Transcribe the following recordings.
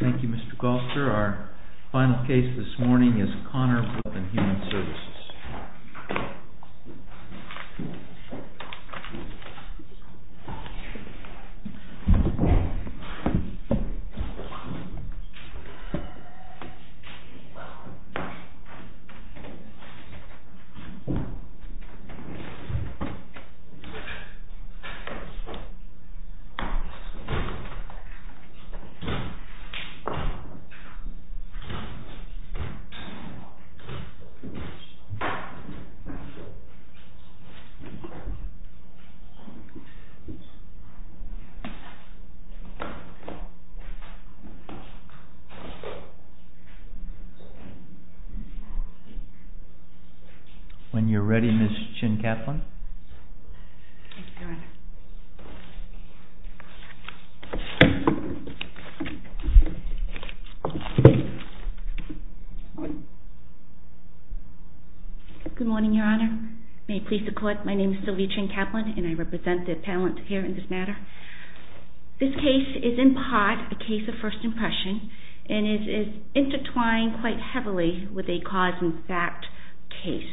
Thank you, Mr. Golster. Our final case this morning is CONNOR v. Human Services. When you're ready, Ms. Chin-Katlin. Good morning, Your Honor. May it please the Court, my name is Sylvia Chin-Katlin and I represent the appellant here in this matter. This case is in part a case of first impression and it is intertwined quite heavily with a cause and fact case.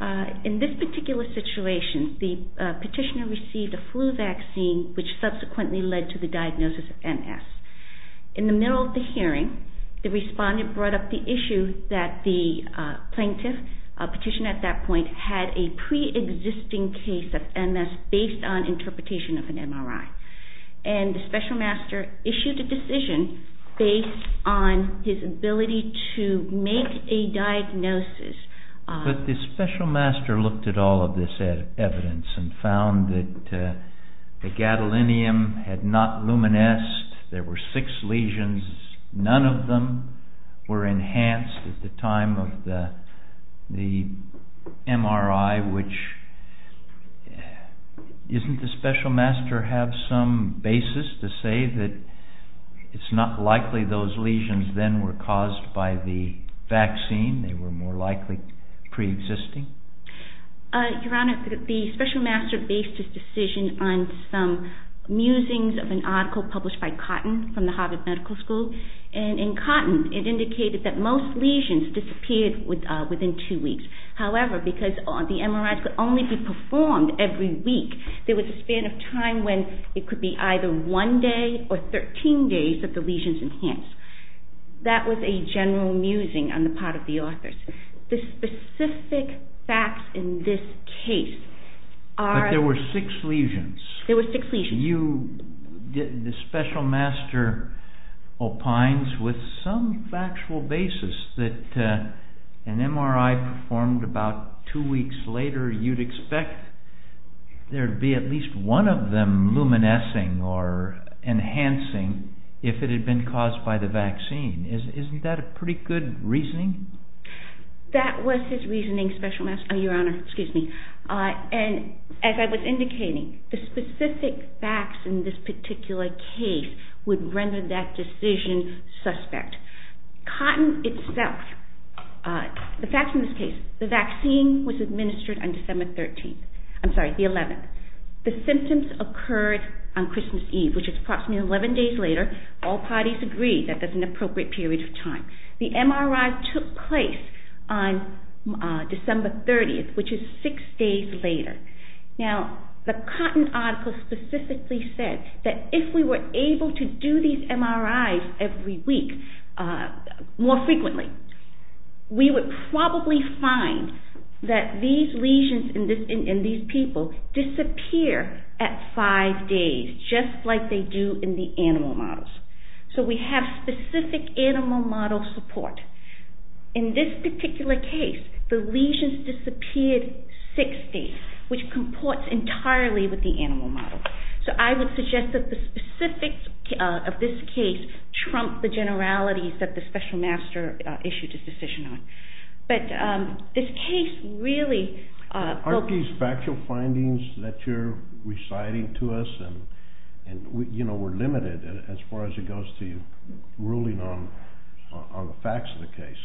In this particular situation, the petitioner received a flu vaccine which subsequently led to the diagnosis of MS. In the middle of the hearing, the respondent brought up the issue that the plaintiff, a petitioner at that point, had a pre-existing case of MS based on interpretation of an MRI. And the special master issued a decision based on his ability to make a diagnosis. But the special master looked at all of this evidence and found that the gadolinium had not luminesced, there were six lesions, none of them were enhanced at the time of the MRI, which isn't the special master have some basis to say that it's not likely those lesions then were caused by the vaccine, they were more likely pre-existing? Your Honor, the special master based his decision on some musings of an article published by Cotton from the Harvard Medical School. And in Cotton, it indicated that most lesions disappeared within two weeks. However, because the MRIs could only be performed every week, there was a span of time when it could be either one day or 13 days that the lesions enhanced. That was a general musing on the part of the authors. The specific facts in this case are... But there were six lesions. There were six lesions. The special master opines with some factual basis that an MRI performed about two weeks later, you'd expect there'd be at least one of them luminescing or enhancing if it had been caused by the vaccine. Isn't that a pretty good reasoning? That was his reasoning, your Honor. And as I was indicating, the specific facts in this particular case would render that decision suspect. Cotton itself, the facts in this case, the vaccine was administered on December 13th. I'm sorry, the 11th. The symptoms occurred on Christmas Eve, which is approximately 11 days later. All parties agreed that that's an appropriate period of time. The MRI took place on December 30th, which is six days later. Now, the Cotton article specifically said that if we were able to do these MRIs every week more frequently, we would probably find that these lesions in these people disappear at five days, just like they do in the animal models. So we have specific animal model support. In this particular case, the lesions disappeared six days, which comports entirely with the animal model. So I would suggest that the specifics of this case trump the generalities that the special master issued his decision on. Aren't these factual findings that you're reciting to us, and we're limited as far as it goes to you, ruling on the facts of the case?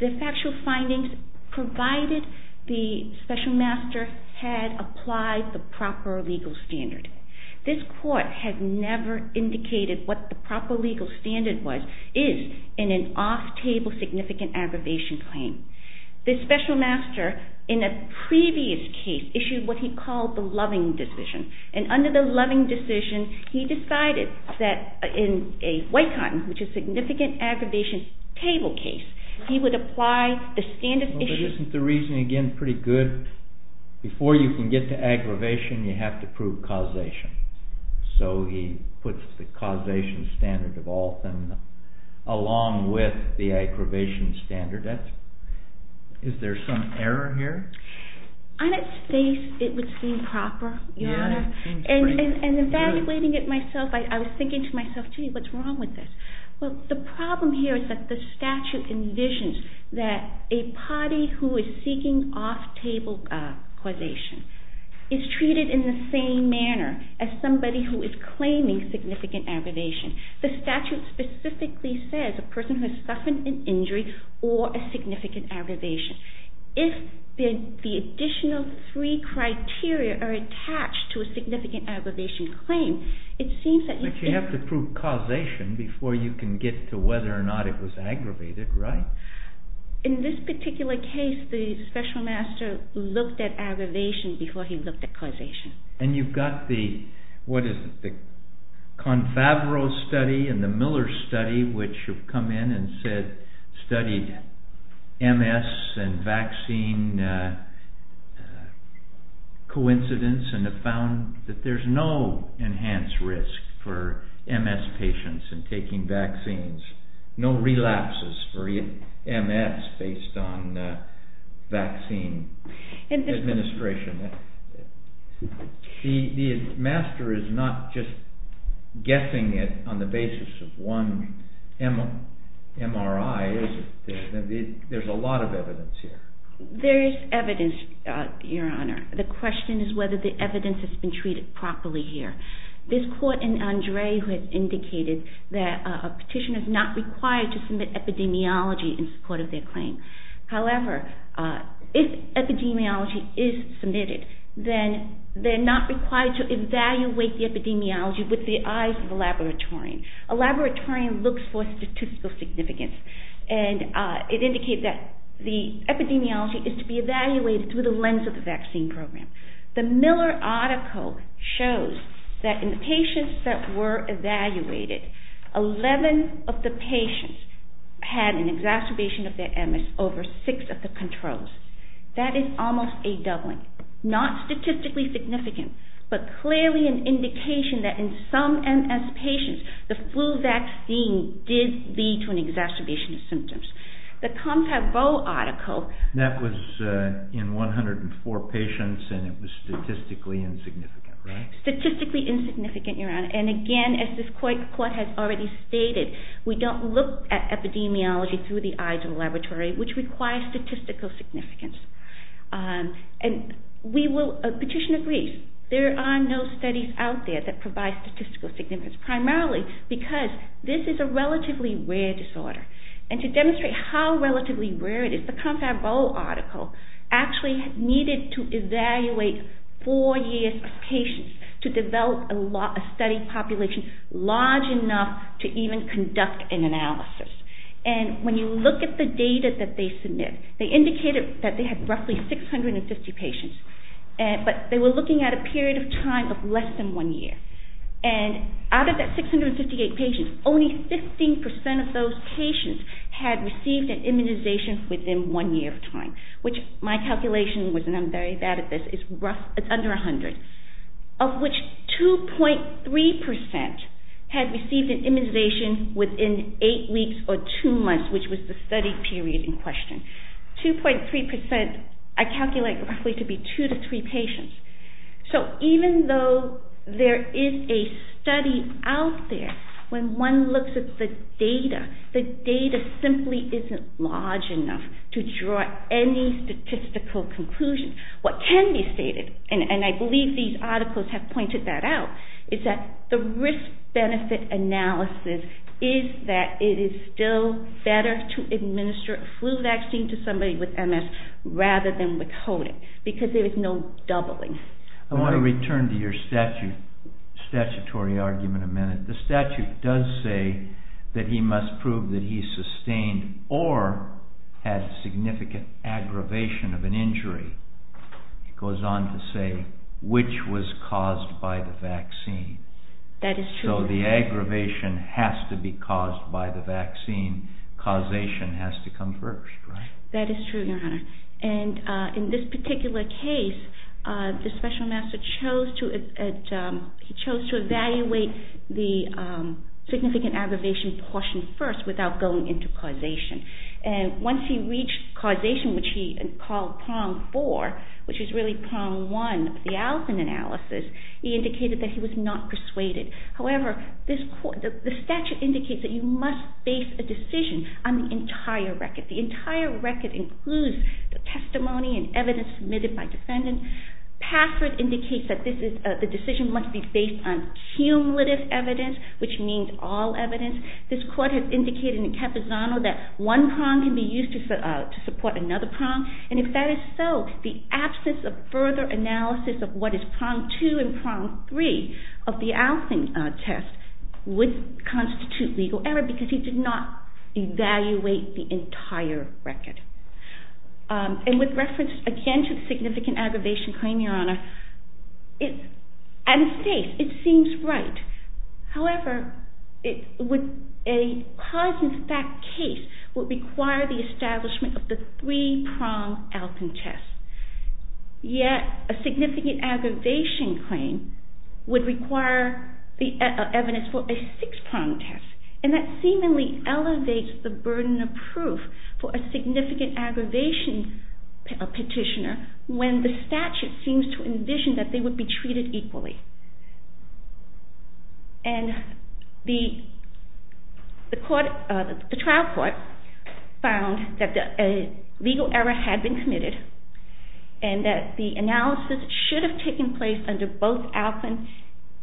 The factual findings provided the special master had applied the proper legal standard. This court had never indicated what the proper legal standard was in an off-table significant aggravation claim. The special master, in a previous case, issued what he called the loving decision. And under the loving decision, he decided that in a white cotton, which is significant aggravation, table case, he would apply the standard issue. Isn't the reasoning, again, pretty good? Before you can get to aggravation, you have to prove causation. So he puts the causation standard of all feminine, along with the aggravation standard. Is there some error here? On its face, it would seem proper, Your Honor. And evaluating it myself, I was thinking to myself, gee, what's wrong with this? Well, the problem here is that the statute envisions that a party who is seeking off-table causation is treated in the same manner as somebody who is claiming significant aggravation. The statute specifically says a person who has suffered an injury or a significant aggravation. If the additional three criteria are attached to a significant aggravation claim, it seems that... But you have to prove causation before you can get to whether or not it was aggravated, right? In this particular case, the special master looked at aggravation before he looked at causation. And you've got the, what is it, the Confavoro study and the Miller study, which have come in and said, studied MS and vaccine coincidence and have found that there's no enhanced risk for MS patients in taking vaccines. No relapses for MS based on vaccine administration. The master is not just guessing it on the basis of one MRI, is it? There's a lot of evidence here. There is evidence, Your Honor. The question is whether the evidence has been treated properly here. This court in Andre who has indicated that a petition is not required to submit epidemiology in support of their claim. However, if epidemiology is submitted, then they're not required to evaluate the epidemiology with the eyes of a laboratorian. A laboratorian looks for statistical significance and it indicates that the epidemiology is to be evaluated through the lens of the vaccine program. The Miller article shows that in the patients that were evaluated, 11 of the patients had an exacerbation of their MS over six of the controls. That is almost a doubling. Not statistically significant, but clearly an indication that in some MS patients, the flu vaccine did lead to an exacerbation of symptoms. That was in 104 patients and it was statistically insignificant, right? Statistically insignificant, Your Honor. And again, as this court has already stated, we don't look at epidemiology through the eyes of a laboratory, which requires statistical significance. A petitioner agrees. There are no studies out there that provide statistical significance, primarily because this is a relatively rare disorder. And to demonstrate how relatively rare it is, the Confab-O article actually needed to evaluate four years of patients to develop a study population large enough to even conduct an analysis. And when you look at the data that they submit, they indicated that they had roughly 650 patients, but they were looking at a period of time of less than one year. And out of that 658 patients, only 15% of those patients had received an immunization within one year of time, which my calculation was, and I'm very bad at this, is under 100. Of which 2.3% had received an immunization within eight weeks or two months, which was the study period in question. 2.3%, I calculate roughly to be two to three patients. So even though there is a study out there, when one looks at the data, the data simply isn't large enough to draw any statistical conclusions. What can be stated, and I believe these articles have pointed that out, is that the risk-benefit analysis is that it is still better to administer a flu vaccine to somebody with MS rather than with COVID, because there is no doubling. I want to return to your statutory argument a minute. The statute does say that he must prove that he sustained or had significant aggravation of an injury. It goes on to say which was caused by the vaccine. That is true. So the aggravation has to be caused by the vaccine. Causation has to come first, right? That is true, Your Honor. And in this particular case, the special master chose to evaluate the significant aggravation portion first without going into causation. And once he reached causation, which he called prong four, which is really prong one of the Allison analysis, he indicated that he was not persuaded. However, the statute indicates that you must base a decision on the entire record. The entire record includes the testimony and evidence submitted by defendants. Password indicates that the decision must be based on cumulative evidence, which means all evidence. This court has indicated in Capizano that one prong can be used to support another prong. And if that is so, the absence of further analysis of what is prong two and prong three of the Allison test would constitute legal error because he did not evaluate the entire record. And with reference again to the significant aggravation claim, Your Honor, it seems right. However, a cause and effect case would require the establishment of the three prong Allison test. Yet a significant aggravation claim would require the evidence for a six prong test. And that seemingly elevates the burden of proof for a significant aggravation petitioner when the statute seems to envision that they would be treated equally. And the trial court found that a legal error had been committed and that the analysis should have taken place under both Allison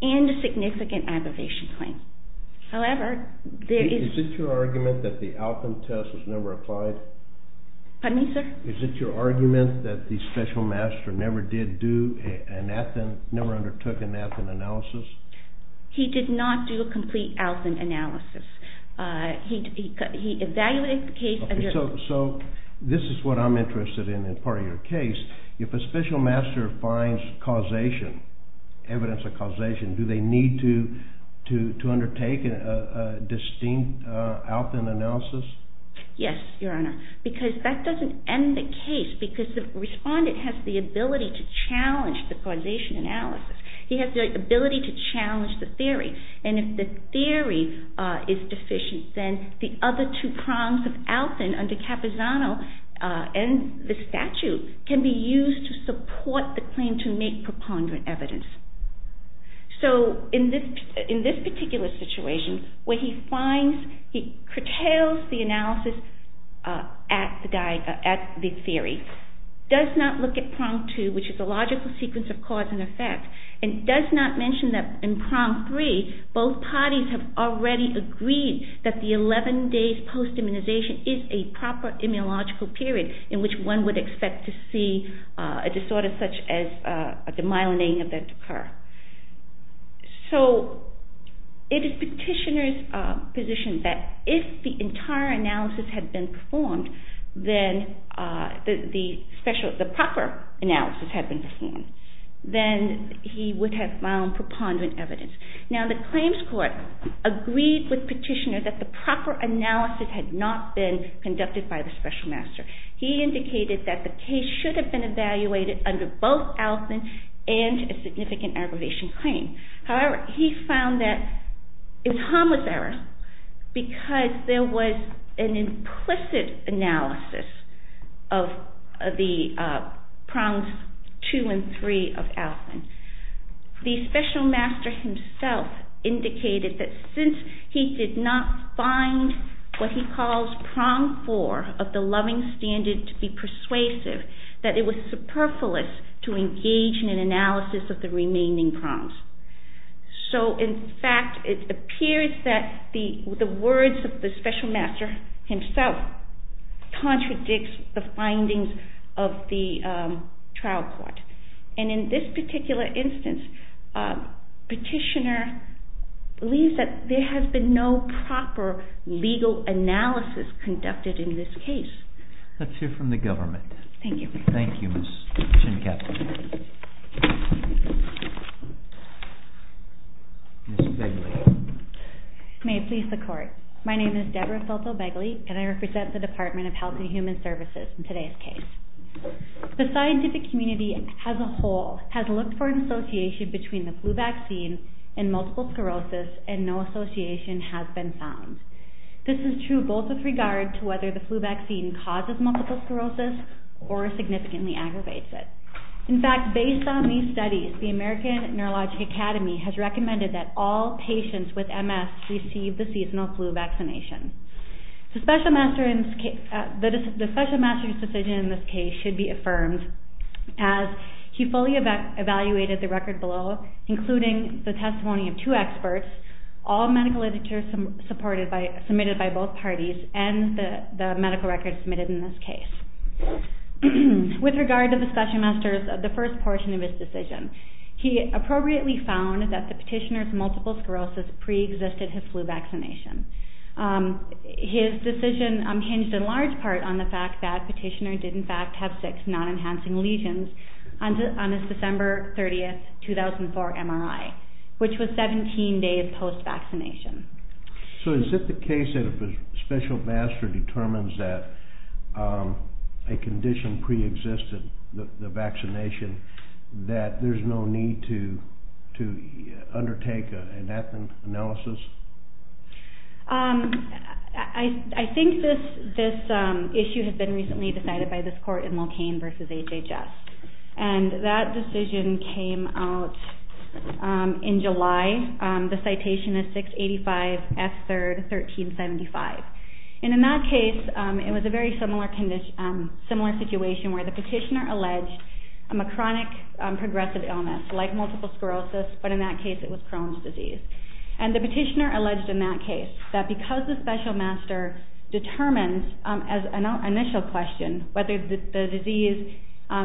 and a significant aggravation claim. However, there is... Is it your argument that the Allison test was never applied? Pardon me, sir? Is it your argument that the special master never undertook an Allison analysis? He did not do a complete Allison analysis. He evaluated the case... So this is what I'm interested in as part of your case. If a special master finds causation, evidence of causation, do they need to undertake a distinct Allison analysis? Yes, Your Honor. Because that doesn't end the case. Because the respondent has the ability to challenge the causation analysis. He has the ability to challenge the theory. And if the theory is deficient, then the other two prongs of Allison under Capizano and the statute can be used to support the claim to make preponderant evidence. So in this particular situation, where he finds... He curtails the analysis at the theory, does not look at prong two, which is a logical sequence of cause and effect, and does not mention that in prong three, both parties have already agreed that the 11 days post-immunization is a proper immunological period in which one would expect to see a disorder such as a demyelinating event of Crohn's disease. So it is Petitioner's position that if the entire analysis had been performed, the proper analysis had been performed, then he would have found preponderant evidence. Now the claims court agreed with Petitioner that the proper analysis had not been conducted by the special master. He indicated that the case should have been evaluated under both Allison and a significant aggravation claim. However, he found that it's homozerous because there was an implicit analysis of the prongs two and three of Allison. The special master himself indicated that since he did not find what he calls prong four of the loving standard to be persuasive, that it was superfluous to engage in an analysis of the remaining prongs. So in fact, it appears that the words of the special master himself contradicts the findings of the trial court. And in this particular instance, Petitioner believes that there has been no proper legal analysis conducted in this case. Let's hear from the government. Thank you. Thank you, Ms. Schenkepfer. Ms. Begley. May it please the court. My name is Debra Filto Begley, and I represent the Department of Health and Human Services in today's case. The scientific community as a whole has looked for an association between the flu vaccine and multiple sclerosis, and no association has been found. This is true both with regard to whether the flu vaccine causes multiple sclerosis or significantly aggravates it. In fact, based on these studies, the American Neurologic Academy has recommended that all patients with MS receive the seasonal flu vaccination. The special master's decision in this case should be affirmed, as he fully evaluated the record below, including the testimony of two experts, all medical literature submitted by both parties, and the medical records submitted in this case. With regard to the special master's, the first portion of his decision, he appropriately found that the petitioner's multiple sclerosis preexisted his flu vaccination. His decision hinged in large part on the fact that Petitioner did in fact have six non-enhancing lesions on his December 30, 2004 MRI, which was 17 days post-vaccination. So is it the case that if a special master determines that a condition preexisted, the vaccination, that there's no need to undertake an analysis? I think this issue has been recently decided by this court in Locaine v. HHS, and that decision came out in July. The citation is 685F3, 1375. And in that case, it was a very similar situation where the petitioner alleged a chronic progressive illness, like multiple sclerosis, but in that case it was Crohn's disease. And the petitioner alleged in that case that because the special master determines, as an initial question, whether the disease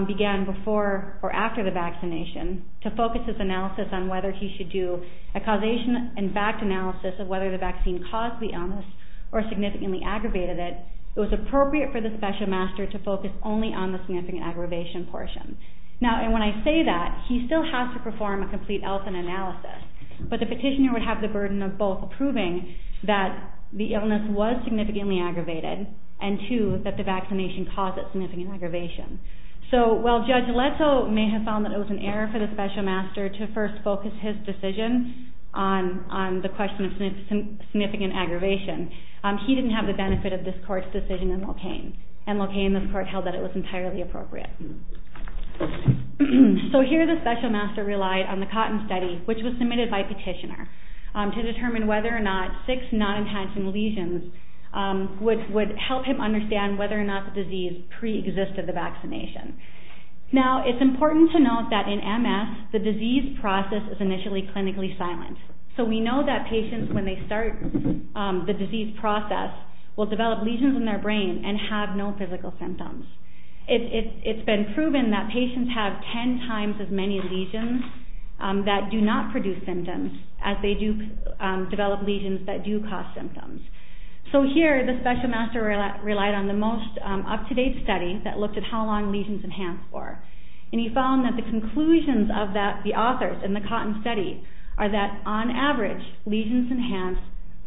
began before or after the vaccination, to focus his analysis on whether he should do a causation and fact analysis of whether the vaccine caused the illness or significantly aggravated it, it was appropriate for the special master to focus only on the significant aggravation portion. Now, and when I say that, he still has to perform a complete health and analysis, but the petitioner would have the burden of both proving that the illness was significantly aggravated, and two, that the vaccination caused it significant aggravation. So while Judge Leto may have found that it was an error for the special master to first focus his decision on the question of significant aggravation, he didn't have the benefit of this court's decision in Locaine, and Locaine, this court, held that it was entirely appropriate. So here the special master relied on the Cotton Study, which was submitted by petitioner, to determine whether or not six non-enhancing lesions would help him understand whether or not the disease pre-existed the vaccination. Now, it's important to note that in MS, the disease process is initially clinically silent. So we know that patients, when they start the disease process, will develop lesions in their brain and have no physical symptoms. It's been proven that patients have ten times as many lesions that do not produce symptoms as they do develop lesions that do cause symptoms. So here, the special master relied on the most up-to-date study that looked at how long lesions enhance for, and he found that the conclusions of the authors in the Cotton Study are that, on average, lesions enhance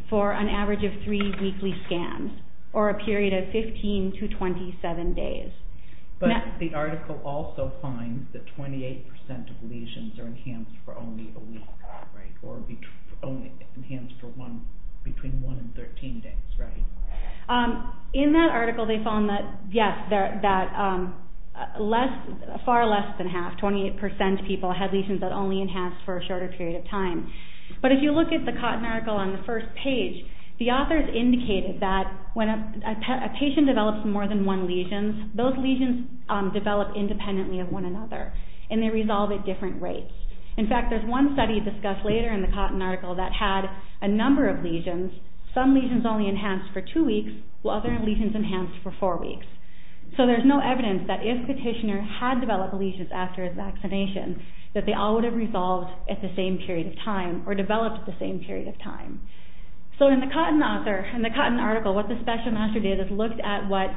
for an average of three weekly scans, or a period of 15 to 27 days. But the article also finds that 28% of lesions are enhanced for only a week, right? Or only enhanced for one, between one and 13 days, right? In that article, they found that, yes, far less than half, 28% of people had lesions that only enhanced for a shorter period of time. But if you look at the Cotton article on the first page, the authors indicated that when a patient develops more than one lesion, those lesions develop independently of one another, and they resolve at different rates. In fact, there's one study discussed later in the Cotton article that had a number of lesions, some lesions only enhanced for two weeks, while other lesions enhanced for four weeks. So there's no evidence that if Petitioner had developed lesions after his vaccination, that they all would have resolved at the same period of time, or developed at the same period of time. So in the Cotton article, what the Special Master did is looked at what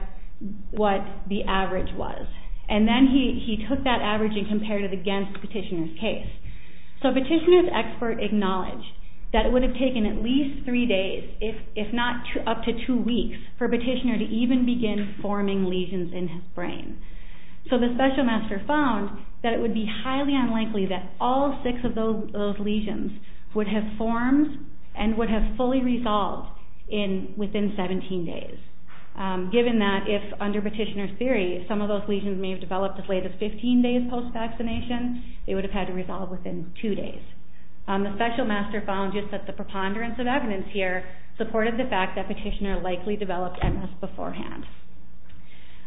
the average was, and then he took that average and compared it against Petitioner's case. So Petitioner's expert acknowledged that it would have taken at least three days, if not up to two weeks, for Petitioner to even begin forming lesions in his brain. So the Special Master found that it would be highly unlikely that all six of those lesions would have formed and would have fully resolved within 17 days, given that if, under Petitioner's theory, some of those lesions may have developed as late as 15 days post-vaccination, they would have had to resolve within two days. The Special Master found, just at the preponderance of evidence here, supported the fact that Petitioner likely developed MS beforehand.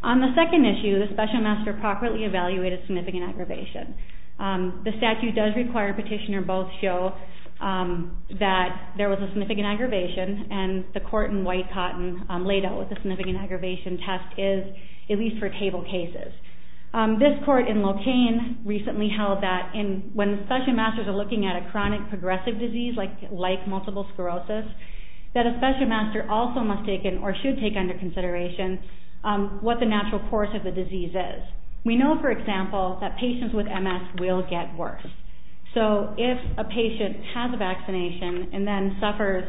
On the second issue, the Special Master properly evaluated significant aggravation. The statute does require Petitioner both show that there was a significant aggravation, and the court in White-Cotton laid out what the significant aggravation test is, at least for table cases. This court in Locaine recently held that when the Special Masters are looking at a chronic progressive disease, like multiple sclerosis, that a Special Master also must take in, or should take under consideration, what the natural course of the disease is. We know, for example, that patients with MS will get worse. So if a patient has a vaccination and then suffers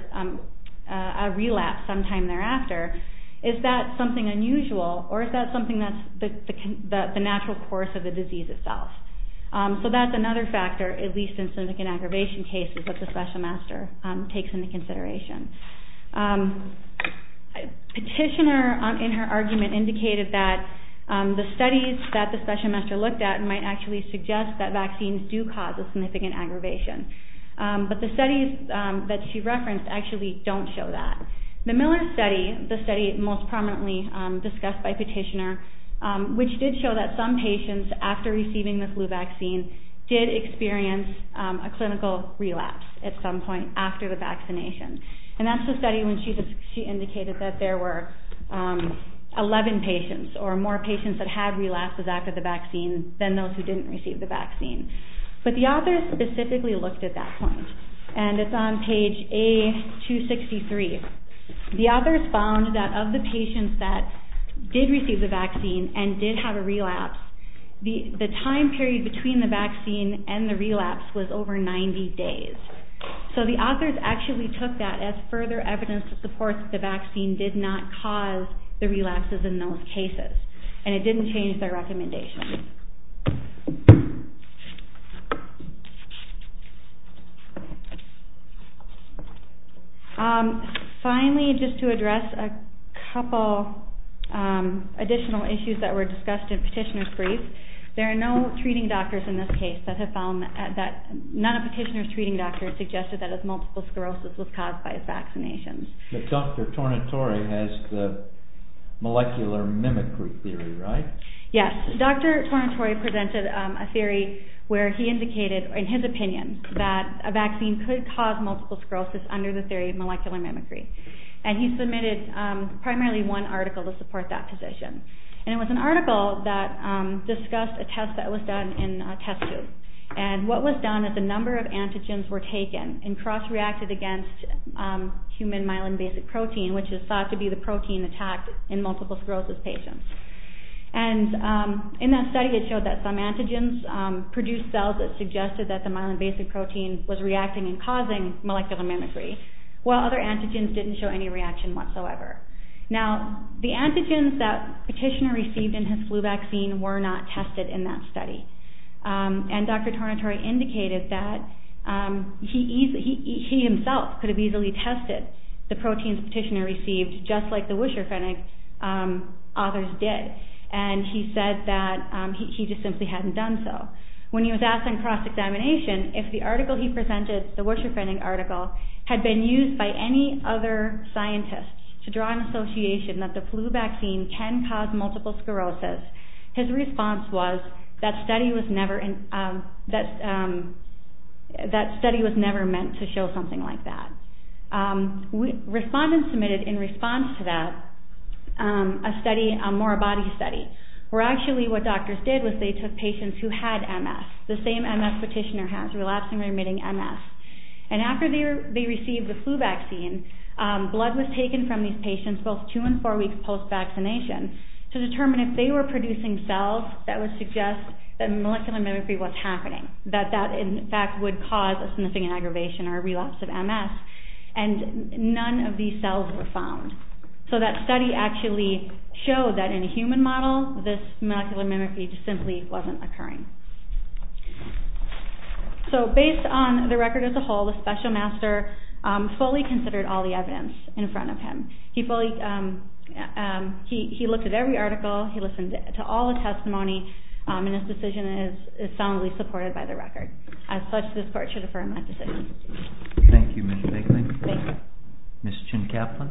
a relapse sometime thereafter, is that something unusual, or is that something that's the natural course of the disease itself? So that's another factor, at least in significant aggravation cases, that the Special Master takes into consideration. Petitioner, in her argument, indicated that the studies that the Special Master looked at might actually suggest that vaccines do cause a significant aggravation. But the studies that she referenced actually don't show that. The Miller study, the study most prominently discussed by Petitioner, which did show that some patients, after receiving the flu vaccine, did experience a clinical relapse at some point after the vaccination. And that's the study when she indicated that there were 11 patients or more patients that had relapsed after the vaccine than those who didn't receive the vaccine. But the authors specifically looked at that point, and it's on page A263. The authors found that of the patients that did receive the vaccine and did have a relapse, the time period between the vaccine and the relapse was over 90 days. So the authors actually took that as further evidence to support that the vaccine did not cause the relapses in those cases, and it didn't change their recommendation. Finally, just to address a couple additional issues that were discussed in Petitioner's brief, there are no treating doctors in this case that have found that, none of Petitioner's treating doctors suggested that a multiple sclerosis was caused by his vaccinations. But Dr. Tornatore has the molecular mimicry theory, right? Yes. Dr. Tornatore presented a theory where he indicated, in his opinion, that a vaccine could cause multiple sclerosis under the theory of molecular mimicry. And he submitted primarily one article to support that position. And it was an article that discussed a test that was done in a test tube. And what was done is a number of antigens were taken and cross-reacted against human myelin-basic protein, which is thought to be the protein attacked in multiple sclerosis patients. And in that study, it showed that some antigens produced cells that suggested that the myelin-basic protein was reacting and causing molecular mimicry, while other antigens didn't show any reaction whatsoever. Now, the antigens that Petitioner received in his flu vaccine were not tested in that study. And Dr. Tornatore indicated that he himself could have easily tested the proteins Petitioner received, just like the Wischer-Fennig authors did. And he said that he just simply hadn't done so. When he was asked in cross-examination if the article he presented, the Wischer-Fennig article, had been used by any other scientists to draw an association that the flu vaccine can cause multiple sclerosis, his response was that study was never meant to show something like that. Respondents submitted in response to that a study, more a body study, where actually what doctors did was they took patients who had MS, the same MS Petitioner has, relapsing-remitting MS. And after they received the flu vaccine, blood was taken from these patients, both two and four weeks post-vaccination, to determine if they were producing cells that would suggest that molecular mimicry was happening, that that, in fact, would cause a significant aggravation or relapse of MS. And none of these cells were found. So that study actually showed that in a human model, this molecular mimicry simply wasn't occurring. So based on the record as a whole, the special master fully considered all the evidence in front of him. He fully – he looked at every article. He listened to all the testimony. And his decision is solidly supported by the record. As such, this Court should affirm that decision. Thank you, Ms. Bickling. Thank you. Ms. Chin-Kaplan.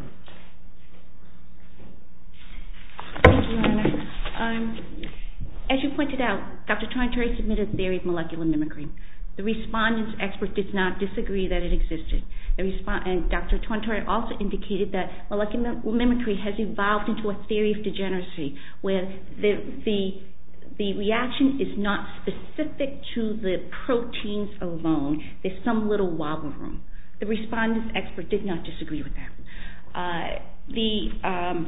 Thank you, Your Honor. As you pointed out, Dr. Torrentieri submitted a theory of molecular mimicry. The respondent's expert did not disagree that it existed. And Dr. Torrentieri also indicated that molecular mimicry has evolved into a theory of degeneracy, where the reaction is not specific to the proteins alone. There's some little wobble room. The respondent's expert did not disagree with that. The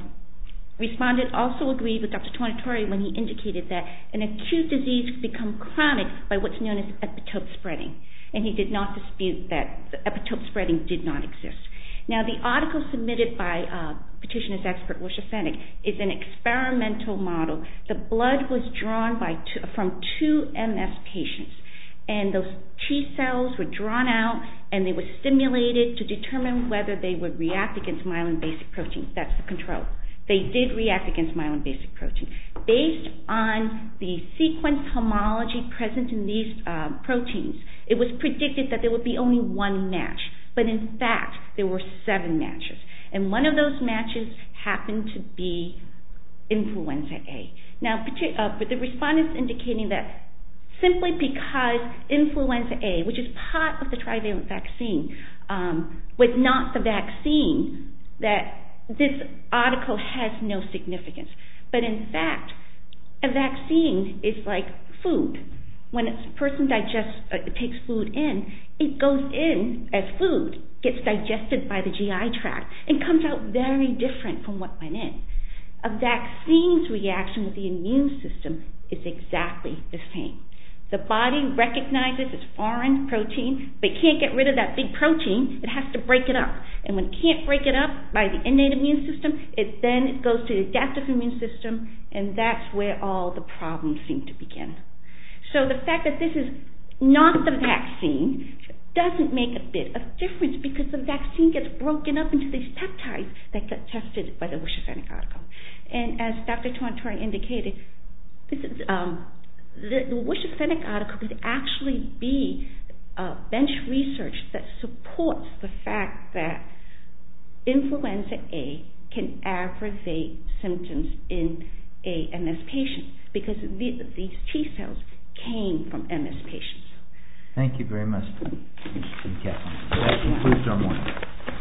respondent also agreed with Dr. Torrentieri when he indicated that an acute disease can become chronic by what's known as epitope spreading. And he did not dispute that epitope spreading did not exist. Now, the article submitted by petitioner's expert, Lucia Fennec, is an experimental model. The blood was drawn from two MS patients. And those T cells were drawn out, and they were stimulated to determine whether they would react against myelin-basic proteins. That's the control. They did react against myelin-basic proteins. Based on the sequence homology present in these proteins, it was predicted that there would be only one match. But, in fact, there were seven matches. And one of those matches happened to be influenza A. But the respondent's indicating that simply because influenza A, which is part of the trivalent vaccine, was not the vaccine, that this article has no significance. But, in fact, a vaccine is like food. When a person takes food in, it goes in as food, gets digested by the GI tract, and comes out very different from what went in. A vaccine's reaction with the immune system is exactly the same. The body recognizes it's foreign protein, but it can't get rid of that big protein. It has to break it up. And when it can't break it up by the innate immune system, then it goes to the adaptive immune system, and that's where all the problems seem to begin. So, the fact that this is not the vaccine doesn't make a bit of difference, because the vaccine gets broken up into these peptides that get tested by the Wusch-Effenick article. And, as Dr. Torontori indicated, the Wusch-Effenick article could actually be bench research that supports the fact that influenza A can aggravate symptoms in AMS patients. Because these T cells came from AMS patients. Thank you very much. That concludes our morning.